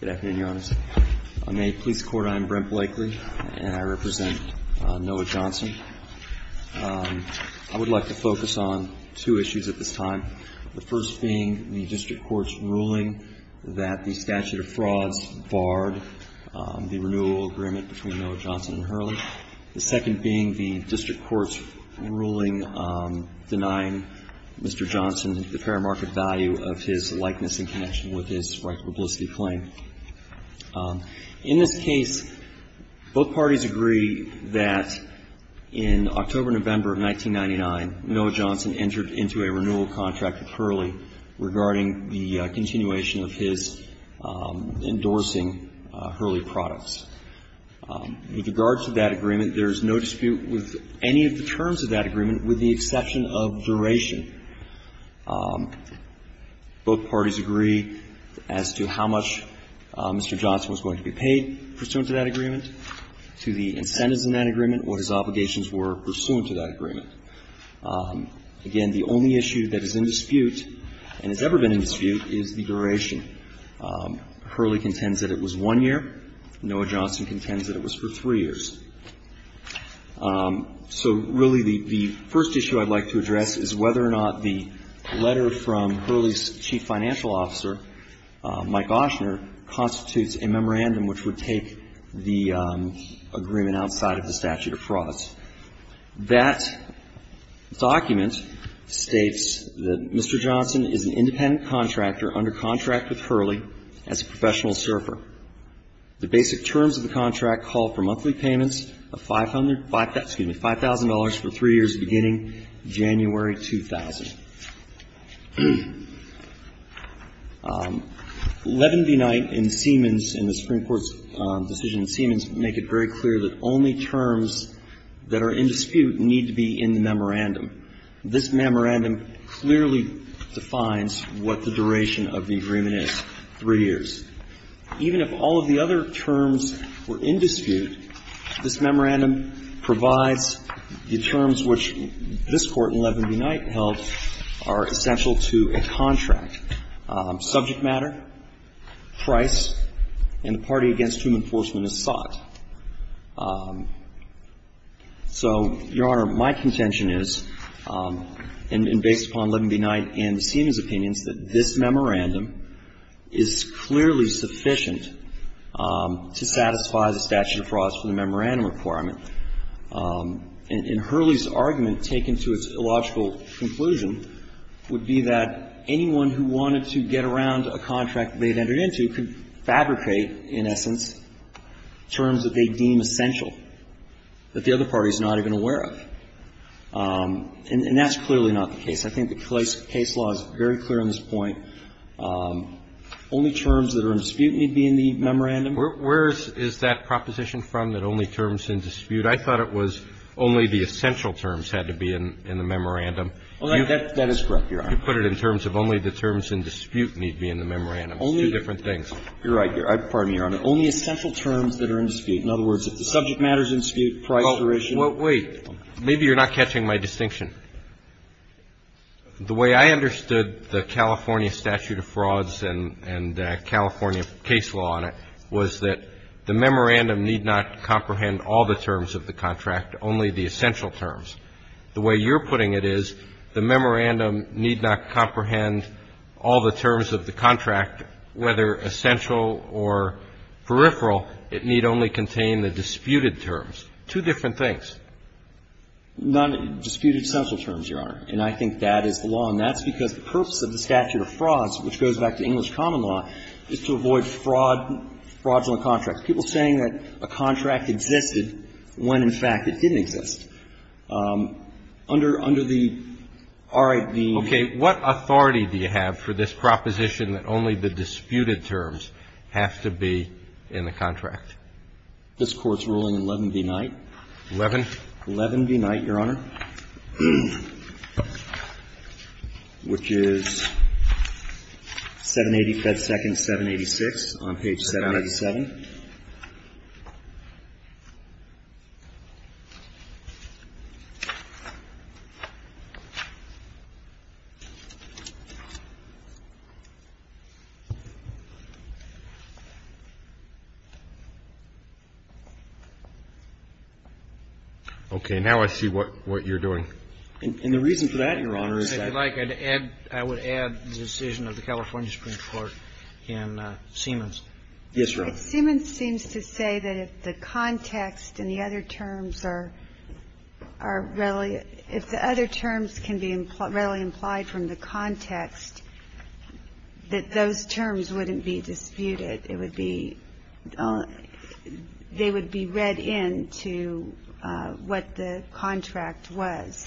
Good afternoon, Your Honors. On the police court, I am Brent Blakely, and I represent Noah Johnson. I would like to focus on two issues at this time, the first being the district court's ruling that the statute of frauds barred the renewal agreement between Noah Johnson and Hurley, the second being the district court's ruling denying Mr. Johnson the fair market value of his likeness in connection with his right to publicity claim. In this case, both parties agree that in October-November of 1999, Noah Johnson entered into a renewal contract with Hurley regarding the continuation of his agreement. There is no dispute with any of the terms of that agreement, with the exception of duration. Both parties agree as to how much Mr. Johnson was going to be paid pursuant to that agreement, to the incentives in that agreement, what his obligations were pursuant to that agreement. Again, the only issue that is in dispute and has ever been in dispute is the duration. Hurley contends that it was one year. Noah Johnson contends that it was for three years. So, really, the first issue I'd like to address is whether or not the letter from Hurley's chief financial officer, Mike Oshner, constitutes a memorandum which would take the agreement outside of the statute of frauds. That document states that Mr. Johnson is an independent contractor under contract with Hurley as a professional surfer. The basic terms of the contract call for monthly payments of $5,000 for three years beginning January 2000. Levin v. Knight and Siemens in the Supreme Court's decision in Siemens make it very clear that only terms that are independent and in dispute need to be in the memorandum. This memorandum clearly defines what the duration of the agreement is, three years. Even if all of the other terms were in dispute, this memorandum provides the terms which this Court in Levin v. Knight held are essential to a contract, subject matter, price, and the party against whom enforcement is sought. So, Your Honor, my contention is, and based upon Levin v. Knight and Siemens' opinions, that this memorandum is clearly sufficient to satisfy the statute of frauds for the memorandum requirement. And Hurley's argument, taken to its illogical conclusion, would be that anyone who wanted to get around a contract they'd entered into could fabricate, in essence, terms that they deem essential, that the other party is not even aware of. And that's clearly not the case. I think the case law is very clear on this point. Only terms that are in dispute need to be in the memorandum. Where is that proposition from, that only terms in dispute? I thought it was only the essential terms had to be in the memorandum. That is correct, Your Honor. You put it in terms of only the terms in dispute need be in the memorandum. It's two different things. You're right. Pardon me, Your Honor. Only essential terms that are in dispute. In other words, if the subject matter is in dispute, price duration. Well, wait. Maybe you're not catching my distinction. The way I understood the California statute of frauds and California case law on it was that the memorandum need not comprehend all the terms of the contract, only the essential terms. The way you're putting it is the memorandum need not comprehend all the terms of the contract, whether essential or peripheral. It need only contain the disputed terms. Two different things. Not disputed essential terms, Your Honor. And I think that is the law. And that's because the purpose of the statute of frauds, which goes back to English common law, is to avoid fraud, fraudulent contracts, people saying that a contract existed when, in fact, it didn't exist. Under the R.I.P. Okay. What authority do you have for this proposition that only the disputed terms have to be in the contract? This Court's ruling, 11 v. Knight. 11? 11 v. Knight, Your Honor, which is 780 Fed Second 786 on page 787. Okay. Now I see what you're doing. And the reason for that, Your Honor, is that you have to add the decision of the California Supreme Court in Siemens. Yes, Your Honor. Siemens seems to say that if the context and the other terms are readily – if the other terms can be readily implied from the context, that those terms wouldn't be disputed. It would be – they would be read into what the contract was.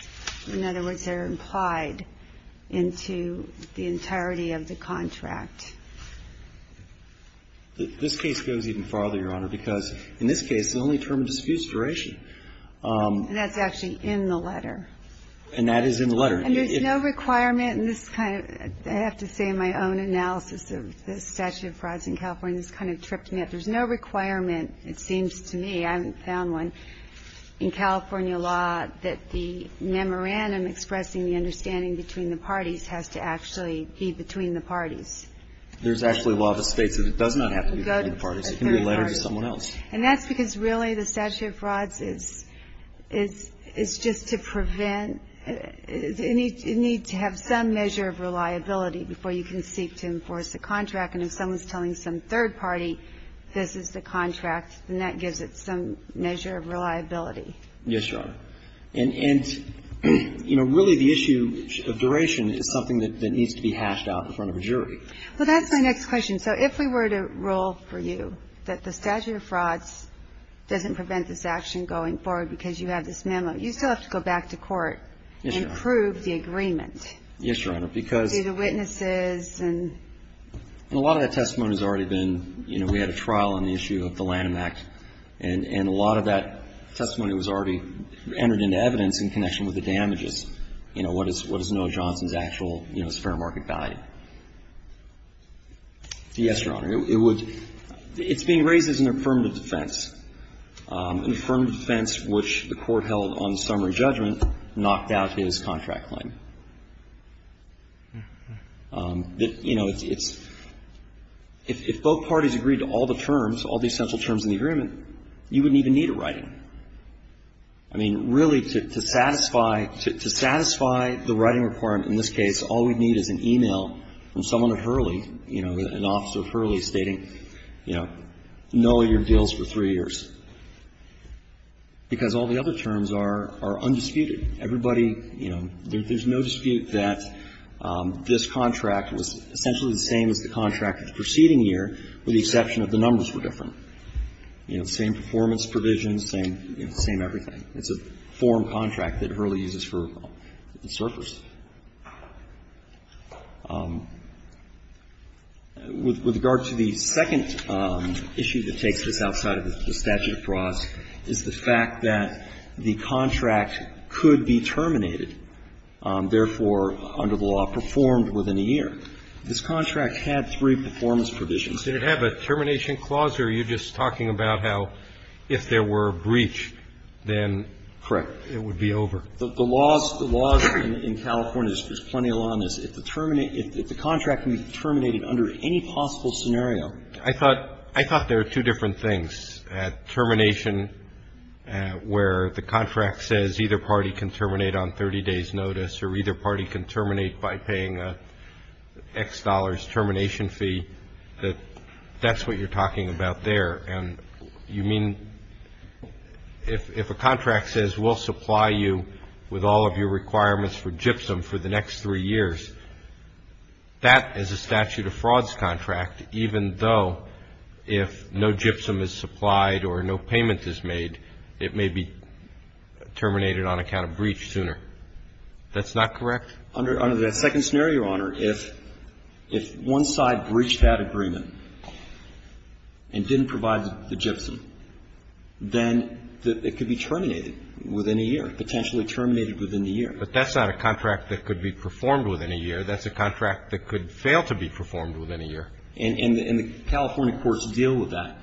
In other words, they're implied into the entirety of the contract. This case goes even farther, Your Honor, because in this case, the only term of dispute is duration. And that's actually in the letter. And that is in the letter. And there's no requirement in this kind of – I have to say in my own analysis of the statute of frauds in California, this kind of tripped me up. There's no requirement, it seems to me – I haven't found one – in California law that the memorandum expressing the understanding between the parties has to actually be between the parties. There's actually law that states that it does not have to be between the parties. It can be a letter to someone else. And that's because really the statute of frauds is just to prevent – it needs to have some measure of reliability before you can seek to enforce a contract. And if someone's telling some third party this is the contract, then that gives it some measure of reliability. Yes, Your Honor. And, you know, really the issue of duration is something that needs to be hashed out in front of a jury. Well, that's my next question. So if we were to rule for you that the statute of frauds doesn't prevent this action going forward because you have this memo, you still have to go back to court and prove the agreement. Yes, Your Honor, because – To the witnesses and – And a lot of that testimony has already been – you know, we had a trial on the issue of the Lanham Act. And a lot of that testimony was already entered into evidence in connection with the damages. You know, what is Noah Johnson's actual, you know, fair market value? Yes, Your Honor. It would – it's being raised as an affirmative defense. An affirmative defense which the Court held on the summary judgment knocked out his contract claim. You know, it's – if both parties agreed to all the terms, all the essential terms in the agreement, you wouldn't even need a writing. I mean, really, to satisfy – to satisfy the writing requirement in this case, all we'd need is an e-mail from someone at Hurley, you know, an officer at Hurley, stating, you know, Noah, your deal's for three years, because all the other terms are undisputed. Everybody, you know, there's no dispute that this contract was essentially the same as the contract of the preceding year, with the exception that the numbers were different. You know, same performance provisions, same, you know, same everything. It's a form contract that Hurley uses for the surfers. With regard to the second issue that takes this outside of the statute of frauds is the fact that the contract could be terminated, therefore, under the law, performed within a year. This contract had three performance provisions. Roberts. Did it have a termination clause, or are you just talking about how if there were a breach, then it would be over? Correct. The laws in California, there's plenty of law on this. If the contract can be terminated under any possible scenario. I thought there were two different things. Termination where the contract says either party can terminate on 30 days' notice or either party can terminate by paying X dollars termination fee, that that's what you're talking about there. And you mean if a contract says we'll supply you with all of your requirements for gypsum for the next three years, that is a statute of frauds contract, even though if no gypsum is supplied or no payment is made, it may be terminated on account of breach sooner. That's not correct? Under the second scenario, Your Honor, if one side breached that agreement and didn't provide the gypsum, then it could be terminated within a year, potentially terminated within a year. But that's not a contract that could be performed within a year. That's a contract that could fail to be performed within a year. And the California courts deal with that.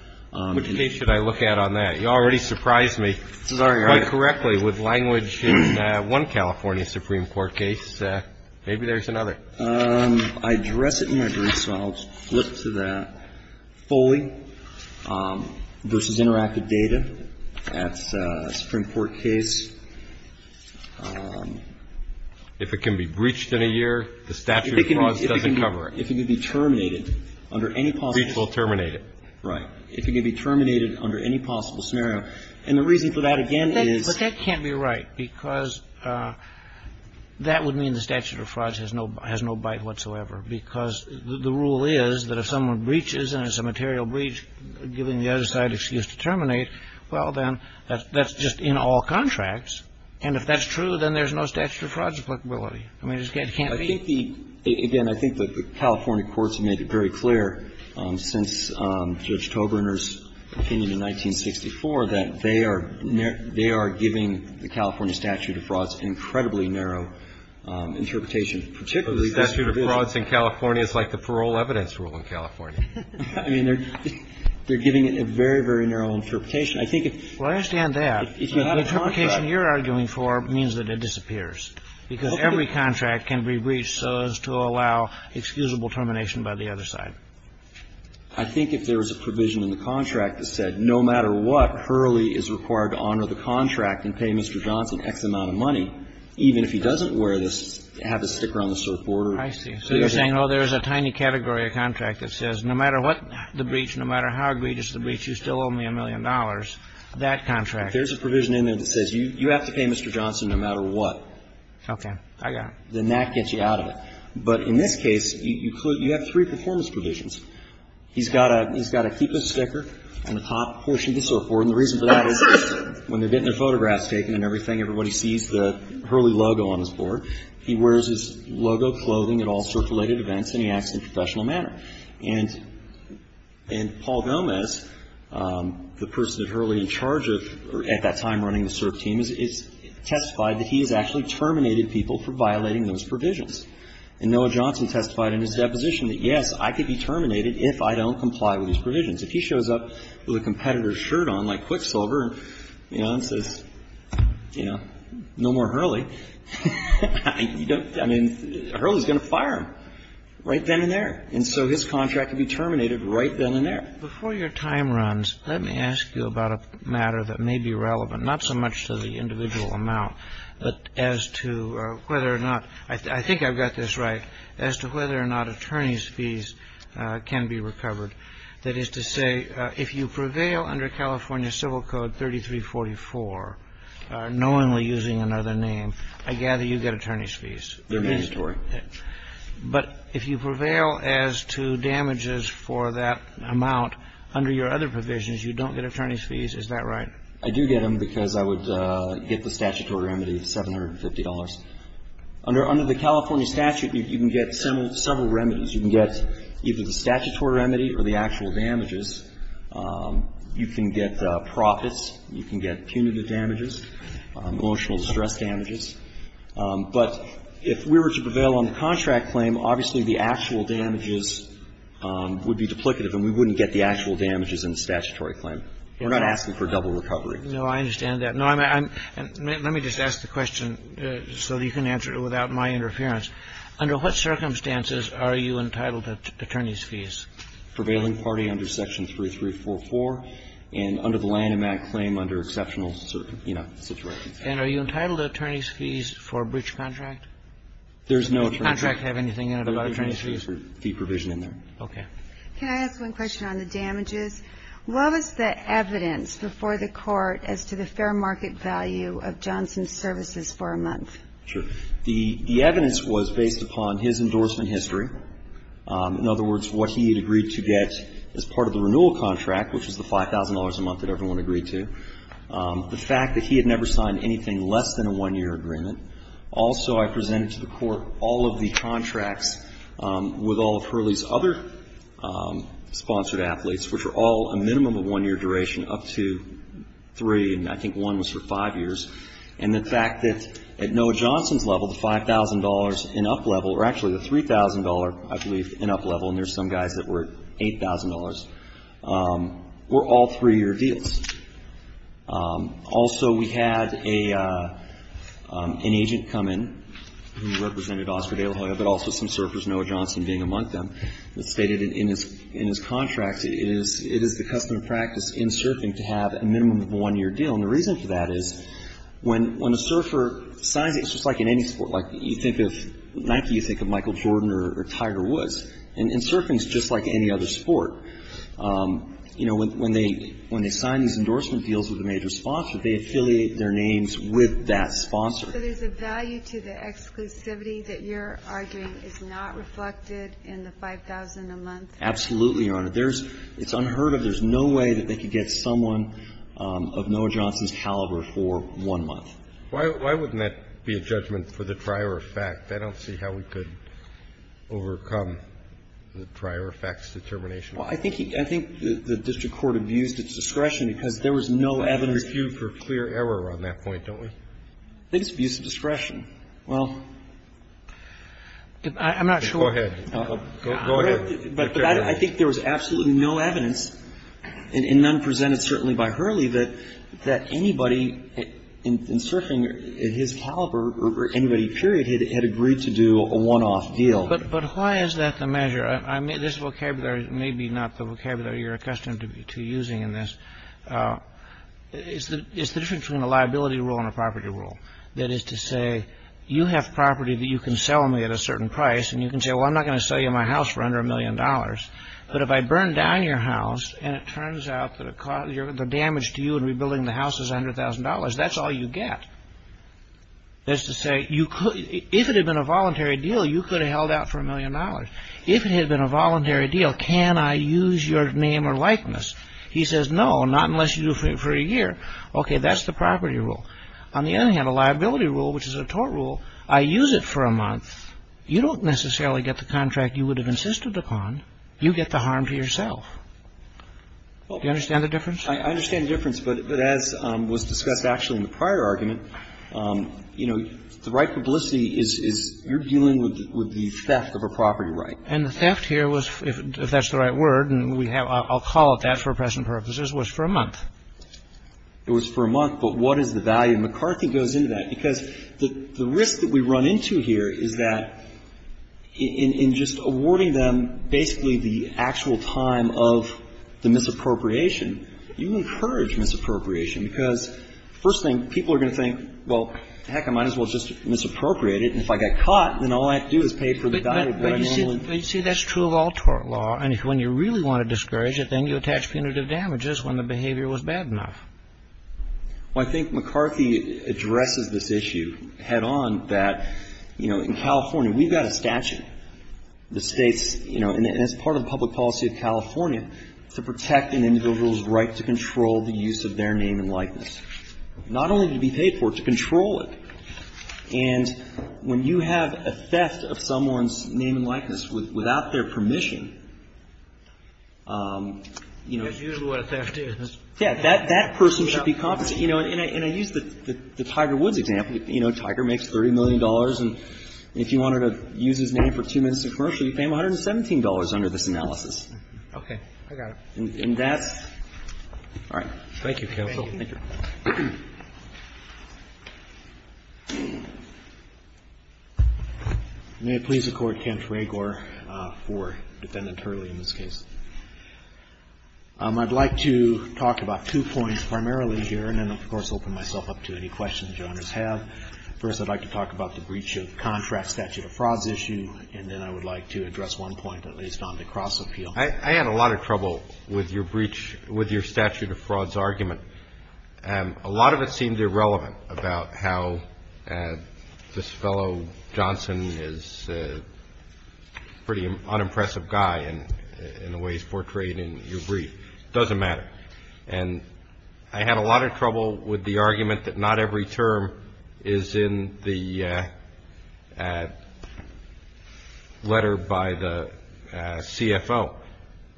Which case should I look at on that? You already surprised me quite correctly with language in one California Supreme Court case. Maybe there's another. I address it in my brief, so I'll flip to that. Foley v. Interactive Data at a Supreme Court case. If it can be breached in a year, the statute of frauds doesn't cover it. If it can be terminated under any possible ---- Breach will terminate it. Right. If it can be terminated under any possible scenario. And the reason for that, again, is ---- But that can't be right because that would mean the statute of frauds has no bite whatsoever because the rule is that if someone breaches and it's a material breach, giving the other side an excuse to terminate, well, then that's just in all contracts. And if that's true, then there's no statute of frauds applicability. I mean, it just can't be. Well, I think the ---- again, I think the California courts have made it very clear since Judge Toberner's opinion in 1964 that they are ---- they are giving the California statute of frauds an incredibly narrow interpretation. Particularly this ---- But the statute of frauds in California is like the parole evidence rule in California. I mean, they're giving it a very, very narrow interpretation. I think if ---- Well, I understand that. The interpretation you're arguing for means that it disappears because every contract can be breached so as to allow excusable termination by the other side. I think if there was a provision in the contract that said no matter what, Hurley is required to honor the contract and pay Mr. Johnson X amount of money, even if he doesn't wear this, have a sticker on the surfboard or ---- I see. So you're saying, oh, there's a tiny category of contract that says no matter what the breach, no matter how egregious the breach, you still owe me a million dollars, that contract. There's a provision in there that says you have to pay Mr. Johnson no matter what. Okay. Then that gets you out of it. But in this case, you have three performance provisions. He's got to keep a sticker on the top portion of the surfboard, and the reason for that is when they're getting their photographs taken and everything, everybody sees the Hurley logo on his board. He wears his logo clothing at all surf-related events, and he acts in a professional manner. And Paul Gomez, the person that Hurley is in charge of at that time running the surf team, has testified that he has actually terminated people for violating those provisions. And Noah Johnson testified in his deposition that, yes, I could be terminated if I don't comply with these provisions. If he shows up with a competitor's shirt on like Quicksilver and says, you know, no more Hurley, you don't ---- I mean, Hurley is going to fire him right then and there. And so his contract could be terminated right then and there. Before your time runs, let me ask you about a matter that may be relevant, not so much to the individual amount, but as to whether or not ---- I think I've got this right ---- as to whether or not attorney's fees can be recovered. That is to say, if you prevail under California Civil Code 3344, knowingly using another name, I gather you get attorney's fees. They're mandatory. But if you prevail as to damages for that amount under your other provisions, you don't get attorney's fees. Is that right? I do get them because I would get the statutory remedy of $750. Under the California statute, you can get several remedies. You can get either the statutory remedy or the actual damages. You can get profits. You can get punitive damages, emotional distress damages. But if we were to prevail on the contract claim, obviously, the actual damages would be duplicative and we wouldn't get the actual damages in the statutory claim. We're not asking for double recovery. No, I understand that. No, I'm ---- let me just ask the question so that you can answer it without my interference. Under what circumstances are you entitled to attorney's fees? Prevailing party under Section 3344 and under the Lanham Act claim under exceptional circumstances. And are you entitled to attorney's fees for a breach contract? There's no fee. Does the contract have anything in it about attorney's fees? There's no fee provision in there. Okay. Can I ask one question on the damages? What was the evidence before the Court as to the fair market value of Johnson's services for a month? Sure. The evidence was based upon his endorsement history. In other words, what he had agreed to get as part of the renewal contract, which was the $5,000 a month that everyone agreed to. The fact that he had never signed anything less than a one-year agreement. Also, I presented to the Court all of the contracts with all of Hurley's other sponsored athletes, which were all a minimum of one-year duration up to three, and I think one was for five years. And the fact that at Noah Johnson's level, the $5,000 and up level, or actually the $3,000, I believe, and up level, and there's some guys that were at $8,000, were all three-year deals. Also, we had an agent come in who represented Oscar De La Hoya, but also some surfers, Noah Johnson being among them, that stated in his contract it is the custom and practice in surfing to have a minimum of a one-year deal. And the reason for that is when a surfer signs it, it's just like in any sport. Like you think of Nike, you think of Michael Jordan or Tiger Woods. And surfing is just like any other sport. You know, when they sign these endorsement deals with a major sponsor, they affiliate their names with that sponsor. So there's a value to the exclusivity that you're arguing is not reflected in the $5,000 a month? Absolutely, Your Honor. It's unheard of. There's no way that they could get someone of Noah Johnson's caliber for one month. Why wouldn't that be a judgment for the prior effect? I don't see how we could overcome the prior effect's determination. Well, I think the district court abused its discretion because there was no evidence. We refute for clear error on that point, don't we? I think it's abuse of discretion. Well, I'm not sure. Go ahead. Go ahead. But I think there was absolutely no evidence, and none presented certainly by Hurley, that anybody in surfing his caliber or anybody, period, had agreed to do a one-off deal. But why is that the measure? This vocabulary may be not the vocabulary you're accustomed to using in this. It's the difference between a liability rule and a property rule. That is to say, you have property that you can sell me at a certain price, and you can say, well, I'm not going to sell you my house for under $1 million. But if I burn down your house, and it turns out that the damage to you in rebuilding the house is $100,000, that's all you get. That's to say, if it had been a voluntary deal, you could have held out for $1 million. If it had been a voluntary deal, can I use your name or likeness? He says, no, not unless you do it for a year. Okay. That's the property rule. On the other hand, a liability rule, which is a tort rule, I use it for a month. You don't necessarily get the contract you would have insisted upon. You get the harm to yourself. Do you understand the difference? I understand the difference. But as was discussed actually in the prior argument, you know, the right publicity is you're dealing with the theft of a property right. And the theft here was, if that's the right word, and I'll call it that for present purposes, was for a month. It was for a month. But what is the value? And McCarthy goes into that, because the risk that we run into here is that in just awarding them basically the actual time of the misappropriation, you encourage misappropriation, because first thing, people are going to think, well, heck, I might as well just misappropriate it. And if I get caught, then all I have to do is pay for the value of the property. But you see, that's true of all tort law. And when you really want to discourage it, then you attach punitive damages when the behavior was bad enough. Well, I think McCarthy addresses this issue head on that, you know, in California we've got a statute that states, you know, and it's part of the public policy of California to protect an individual's right to control the use of their name and likeness, not only to be paid for it, to control it. And when you have a theft of someone's name and likeness without their permission, you know. That's usually what a theft is. Yeah. That person should be compensated. You know, and I use the Tiger Woods example. You know, Tiger makes $30 million. And if you wanted to use his name for two minutes of commercial, you pay him $117 under this analysis. Okay. I got it. And that's all right. Thank you, counsel. Thank you. May it please the Court. Kent Ragour for Defendant Hurley in this case. I'd like to talk about two points primarily here and then, of course, open myself up to any questions Your Honors have. First, I'd like to talk about the breach of contract statute of frauds issue, and then I would like to address one point at least on the cross-appeal. I had a lot of trouble with your statute of frauds argument. A lot of it seemed irrelevant about how this fellow, Johnson, is a pretty unimpressive guy in the way he's portrayed in your brief. It doesn't matter. And I had a lot of trouble with the argument that not every term is in the letter by the CFO,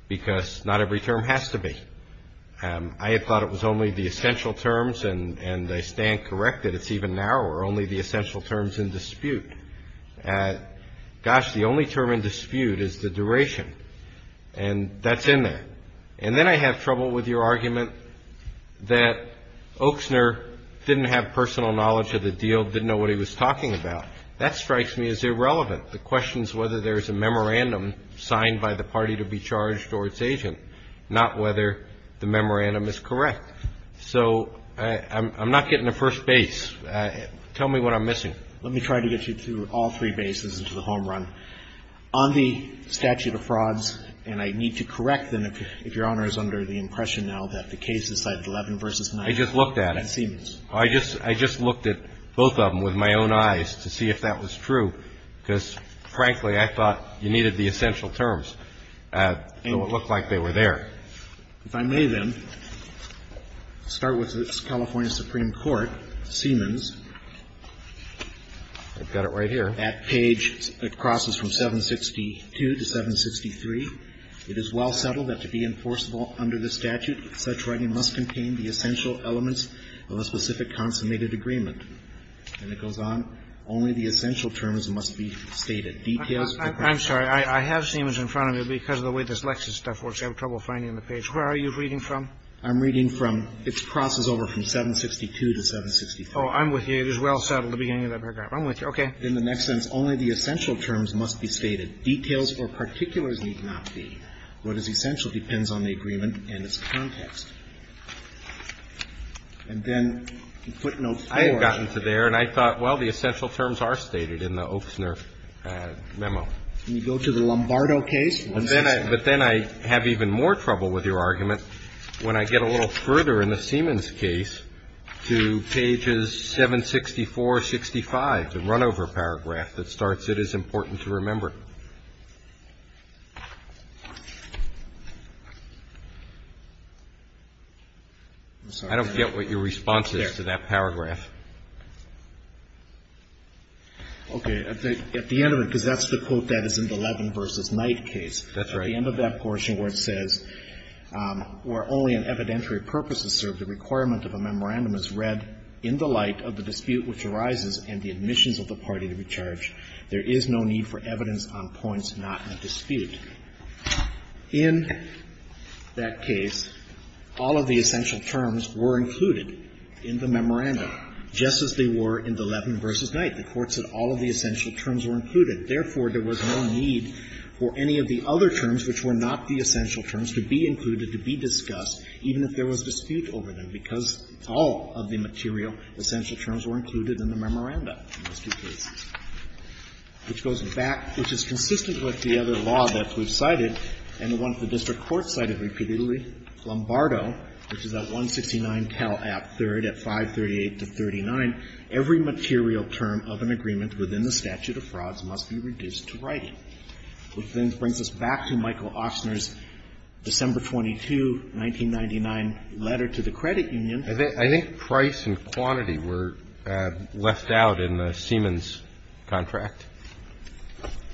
because not every term has to be. I had thought it was only the essential terms, and they stand corrected. It's even narrower, only the essential terms in dispute. Gosh, the only term in dispute is the duration. And that's in there. And then I have trouble with your argument that Oaksner didn't have personal knowledge of the deal, didn't know what he was talking about. That strikes me as irrelevant. The question is whether there is a memorandum signed by the party to be charged or its agent, not whether the memorandum is correct. So I'm not getting to first base. Tell me what I'm missing. Let me try to get you through all three bases and to the home run. On the statute of frauds, and I need to correct them if Your Honor is under the impression now that the case is 11 v. 9 and Siemens. I just looked at it. I just looked at both of them with my own eyes to see if that was true, because, frankly, I thought you needed the essential terms. So it looked like they were there. If I may, then, start with the California Supreme Court, Siemens. I've got it right here. That page, it crosses from 762 to 763. It is well settled that to be enforceable under the statute, such writing must contain the essential elements of a specific consummated agreement. And it goes on. Only the essential terms must be stated. Details. I'm sorry. I have Siemens in front of me, but because of the way this Lexis stuff works, I have trouble finding the page. Where are you reading from? I'm reading from, it crosses over from 762 to 763. Oh, I'm with you. It is well settled at the beginning of that paragraph. I'm with you. Okay. In the next sentence, only the essential terms must be stated. Details or particulars need not be. What is essential depends on the agreement and its context. And then you put note 4. I had gotten to there, and I thought, well, the essential terms are stated in the Ochsner memo. Can you go to the Lombardo case? But then I have even more trouble with your argument when I get a little further in the Siemens case to pages 764, 65, the runover paragraph that starts, it is important to remember. I don't get what your response is to that paragraph. Okay. At the end of it, because that's the quote that is in the Levin v. Knight case. That's right. At the end of that portion where it says, where only an evidentiary purpose is served, the requirement of a memorandum is read in the light of the dispute which arises and the admissions of the party to be charged. There is no need for evidence on points not in dispute. In that case, all of the essential terms were included in the memorandum, just as they were in the Levin v. Knight. The Court said all of the essential terms were included. Therefore, there was no need for any of the other terms, which were not the essential terms, to be included, to be discussed, even if there was dispute over them, because all of the material essential terms were included in the memorandum in those two cases. Which goes back, which is consistent with the other law that we've cited and the one that the district court cited repeatedly, Lombardo, which is at 169 Talap III at 538 to 39, every material term of an agreement within the statute of frauds must be included and must be reduced to writing, which then brings us back to Michael Ostner's December 22, 1999 letter to the credit union. I think price and quantity were left out in the Siemens contract.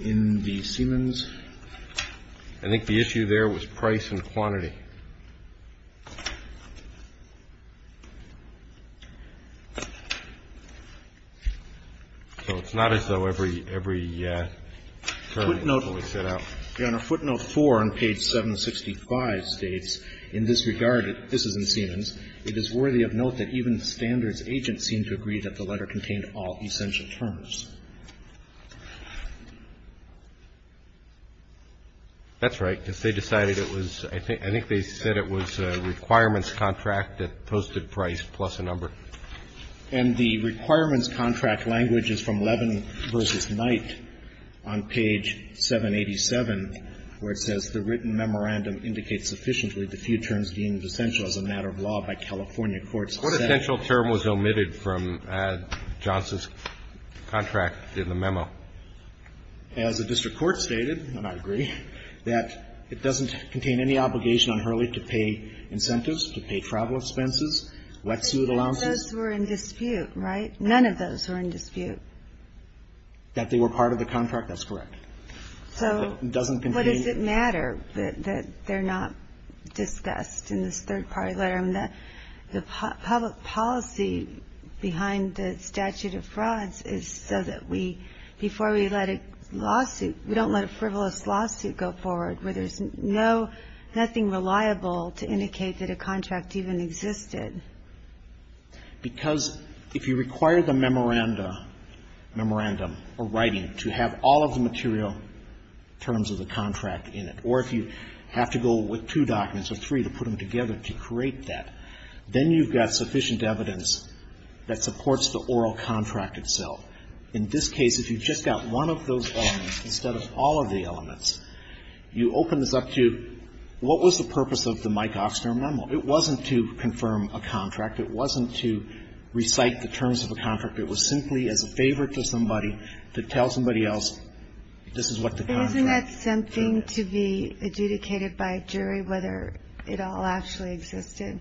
In the Siemens? So it's not as though every, every term was set out. Your Honor, footnote 4 on page 765 states, in this regard, this is in Siemens, it is worthy of note that even standards agents seem to agree that the letter contained all essential terms. That's right, because they decided it was, I think they said it was a requirements contract that posted price plus a number. And the requirements contract language is from Levin v. Knight on page 787, where it says, The written memorandum indicates sufficiently the few terms deemed essential as a matter of law by California courts. What essential term was omitted from Johnson's contract in the memo? As the district court stated, and I agree, that it doesn't contain any obligation on Hurley to pay incentives, to pay travel expenses, wet suit allowances. None of those were in dispute, right? None of those were in dispute. That they were part of the contract, that's correct. So what does it matter that they're not discussed in this third-party letter? The public policy behind the statute of frauds is so that we, before we let a lawsuit, we don't let a frivolous lawsuit go forward where there's no, nothing reliable to indicate that a contract even existed. Because if you require the memorandum or writing to have all of the material terms of the contract in it, or if you have to go with two documents or three to put them together to create that, then you've got sufficient evidence that supports the oral contract itself. In this case, if you've just got one of those elements instead of all of the elements, you open this up to what was the purpose of the Mike Oxner memo. It wasn't to confirm a contract. It wasn't to recite the terms of a contract. It was simply as a favor to somebody to tell somebody else this is what the contract It was simply as a favor to somebody to tell somebody else this is what the contract is. And isn't that something to be adjudicated by a jury, whether it all actually existed?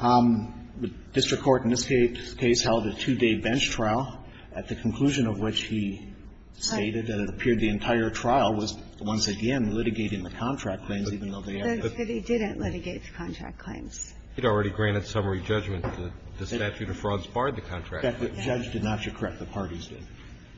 The district court in this case held a two-day bench trial at the conclusion of which he stated that it appeared the entire trial was, once again, litigating the contract claims, even though they are not. But he didn't litigate the contract claims. He'd already granted summary judgment that the statute of frauds barred the contract. The judge did not. You're correct. The parties did.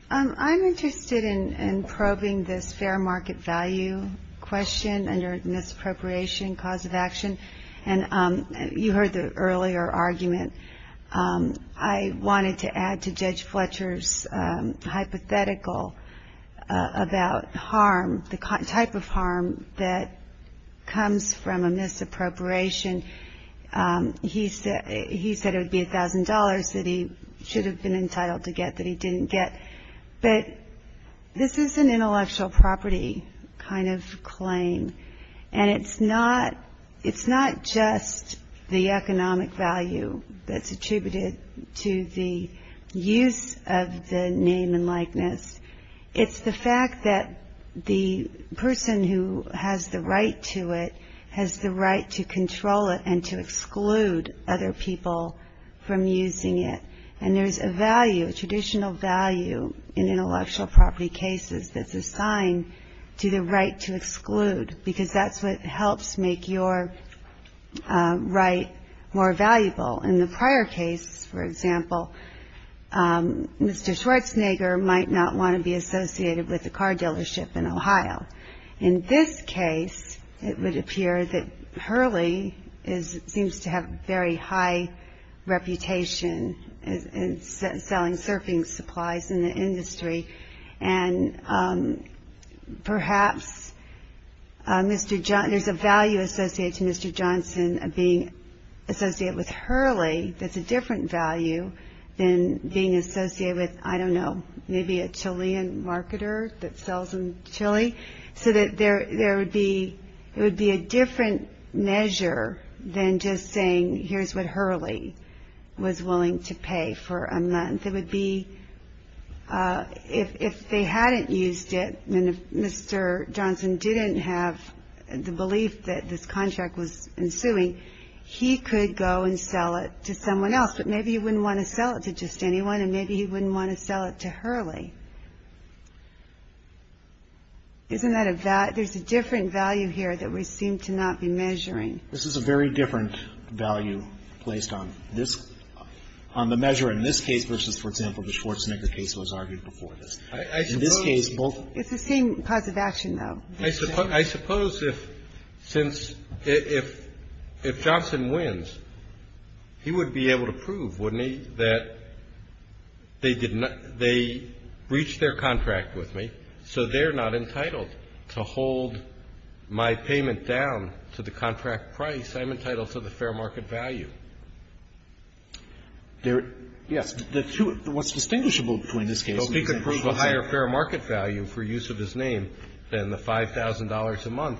I'm interested in probing this fair market value question under misappropriation cause of action. And you heard the earlier argument. I wanted to add to Judge Fletcher's hypothetical about harm, the type of harm that comes from a misappropriation. He said it would be $1,000 that he should have been entitled to get that he didn't get. But this is an intellectual property kind of claim. And it's not just the economic value that's attributed to the use of the name and likeness. It's the fact that the person who has the right to it has the right to control it and to exclude other people from using it. And there's a value, a traditional value in intellectual property cases that's assigned to the right to exclude, because that's what helps make your right more valuable. In the prior case, for example, Mr. Schwartzenegger might not want to be associated with a car dealership in Ohio. In this case, it would appear that Hurley seems to have a very high reputation in selling surfing supplies in the industry. And perhaps there's a value associated to Mr. Johnson being associated with Hurley. That's a different value than being associated with, I don't know, maybe a Chilean marketer that sells in Chile. So there would be a different measure than just saying here's what Hurley was willing to pay for a month. It would be if they hadn't used it and if Mr. Johnson didn't have the belief that this contract was ensuing, he could go and sell it to someone else. But maybe he wouldn't want to sell it to just anyone and maybe he wouldn't want to sell it to Hurley. Isn't that a value? There's a different value here that we seem to not be measuring. This is a very different value placed on this, on the measure in this case versus, for example, the Schwartzenegger case was argued before this. It's the same cause of action, though. I suppose if, since, if Johnson wins, he would be able to prove, wouldn't he, that they did not they breached their contract with me, so they're not entitled to hold my payment down to the contract price. I'm entitled to the fair market value. Yes. The two, what's distinguishable between these cases is the higher fair market value for Johnson and Schwartzenegger.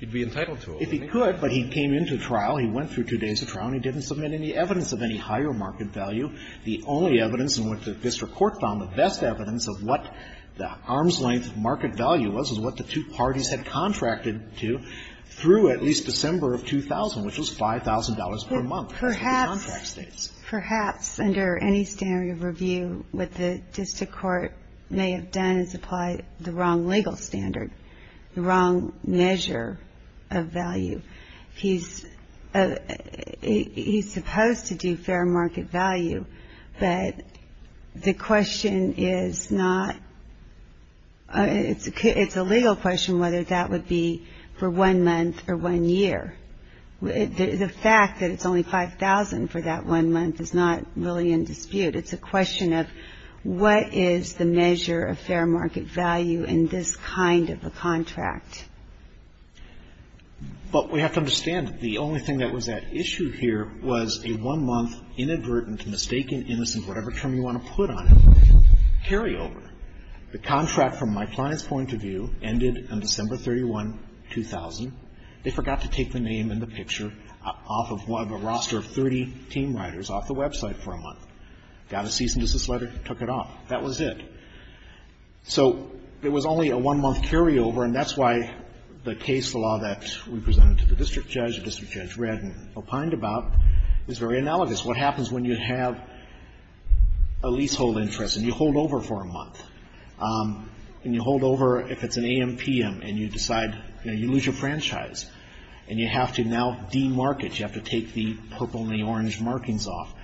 If he could, but he came into trial, he went through two days of trial and he didn't submit any evidence of any higher market value, the only evidence in which the district court found the best evidence of what the arm's-length market value was is what the two parties had contracted to through at least December of 2000, which was $5,000 per month. Perhaps, perhaps under any standard of review, what the district court may have done is apply the wrong legal standard, the wrong measure of value. He's supposed to do fair market value, but the question is not, it's a legal question whether that would be for one month or one year. The fact that it's only $5,000 for that one month is not really in dispute. It's a question of what is the measure of fair market value in this kind of a contract. But we have to understand that the only thing that was at issue here was a one-month inadvertent, mistaken, innocent, whatever term you want to put on it, carryover. The contract, from my client's point of view, ended on December 31, 2000. They forgot to take the name and the picture off of a roster of 30 team riders off the website for a month. Got a cease and desist letter, took it off. That was it. So it was only a one-month carryover, and that's why the case law that we presented to the district judge, the district judge read and opined about, is very analogous. What happens when you have a leasehold interest and you hold over for a month, and you hold over if it's an A.M., P.M., and you decide, you know, you lose your franchise, and you have to now demark it, you have to take the purple and the orange markings off,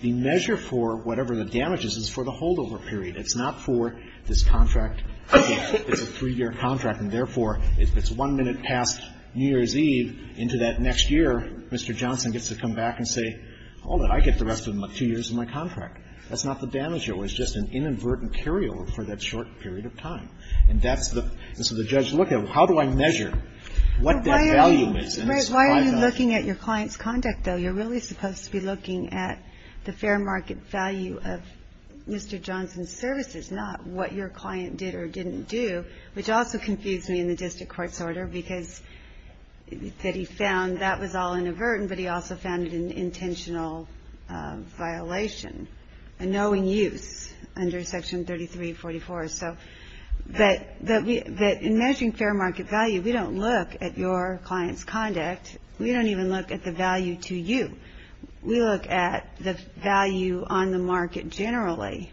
the measure for whatever the damage is is for the holdover period. It's not for this contract. It's a three-year contract, and therefore, if it's one minute past New Year's Eve into that next year, Mr. Johnson gets to come back and say, hold it, I get the rest of the two years of my contract. That's not the damage. It was just an inadvertent carryover for that short period of time. And that's the judge's look at, how do I measure what that value is? Why are you looking at your client's conduct, though? You're really supposed to be looking at the fair market value of Mr. Johnson's services, not what your client did or didn't do, which also confused me in the district court's order, because that he found that was all inadvertent, but he also found it an intentional violation, a knowing use under Section 3344. So in measuring fair market value, we don't look at your client's conduct. We don't even look at the value to you. We look at the value on the market generally.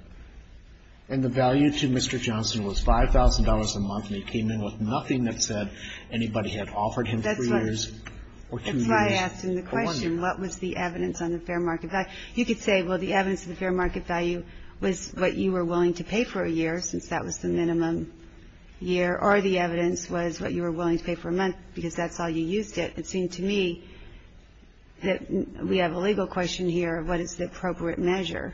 And the value to Mr. Johnson was $5,000 a month, and he came in with nothing that said anybody had offered him three years or two years or one year. That's why I asked him the question, what was the evidence on the fair market value? You could say, well, the evidence of the fair market value was what you were willing to pay for a month, because that's all you used it. It seemed to me that we have a legal question here of what is the appropriate measure.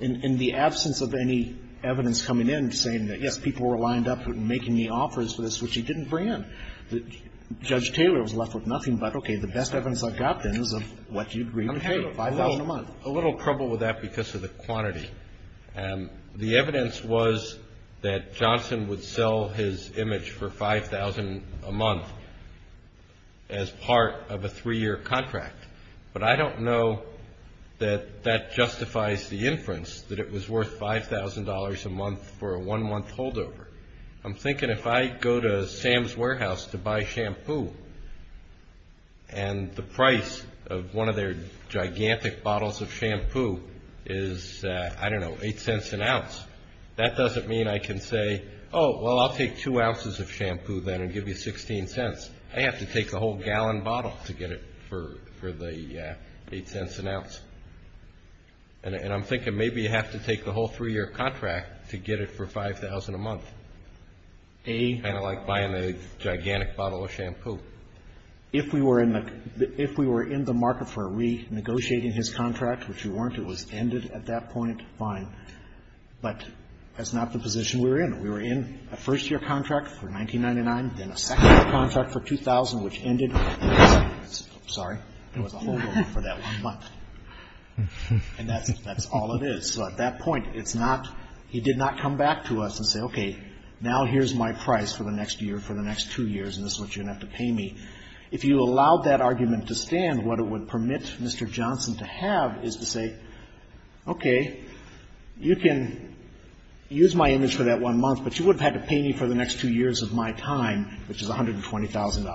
In the absence of any evidence coming in saying that, yes, people were lined up making me offers for this, which he didn't bring in, Judge Taylor was left with nothing but, okay, the best evidence I've got then is of what you agreed to pay, $5,000 a month. I'm having a little trouble with that because of the quantity. The evidence was that Johnson would sell his image for $5,000 a month as part of a three-year contract, but I don't know that that justifies the inference that it was worth $5,000 a month for a one-month holdover. I'm thinking if I go to Sam's Warehouse to buy shampoo and the price of one of their bottles is, I don't know, $0.08 an ounce, that doesn't mean I can say, oh, well, I'll take two ounces of shampoo then and give you $0.16. I have to take the whole gallon bottle to get it for the $0.08 an ounce, and I'm thinking maybe you have to take the whole three-year contract to get it for $5,000 a month, kind of like buying a gigantic bottle of shampoo. If we were in the market for renegotiating his contract, which we weren't, it was ended at that point, fine, but that's not the position we were in. We were in a first-year contract for $19.99, then a second-year contract for $2,000, which ended, sorry, it was a holdover for that one month, and that's all it is. So at that point, it's not he did not come back to us and say, okay, now here's my price for the next year, for the next two years, and this is what you're going to have to pay me. If you allowed that argument to stand, what it would permit Mr. Johnson to have is to say, okay, you can use my image for that one month, but you would have had to pay me for the next two years of my time, which is $120,000. And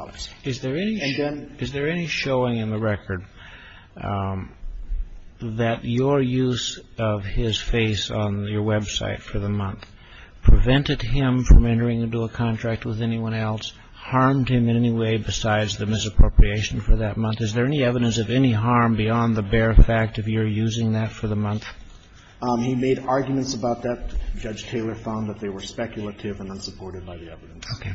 then... Is there any showing in the record that your use of his face on your website for the month prevented him from entering into a contract with anyone else, harmed him in any way besides the misappropriation for that month? Is there any evidence of any harm beyond the bare fact of your using that for the month? He made arguments about that. Judge Taylor found that they were speculative and unsupported by the evidence. Okay.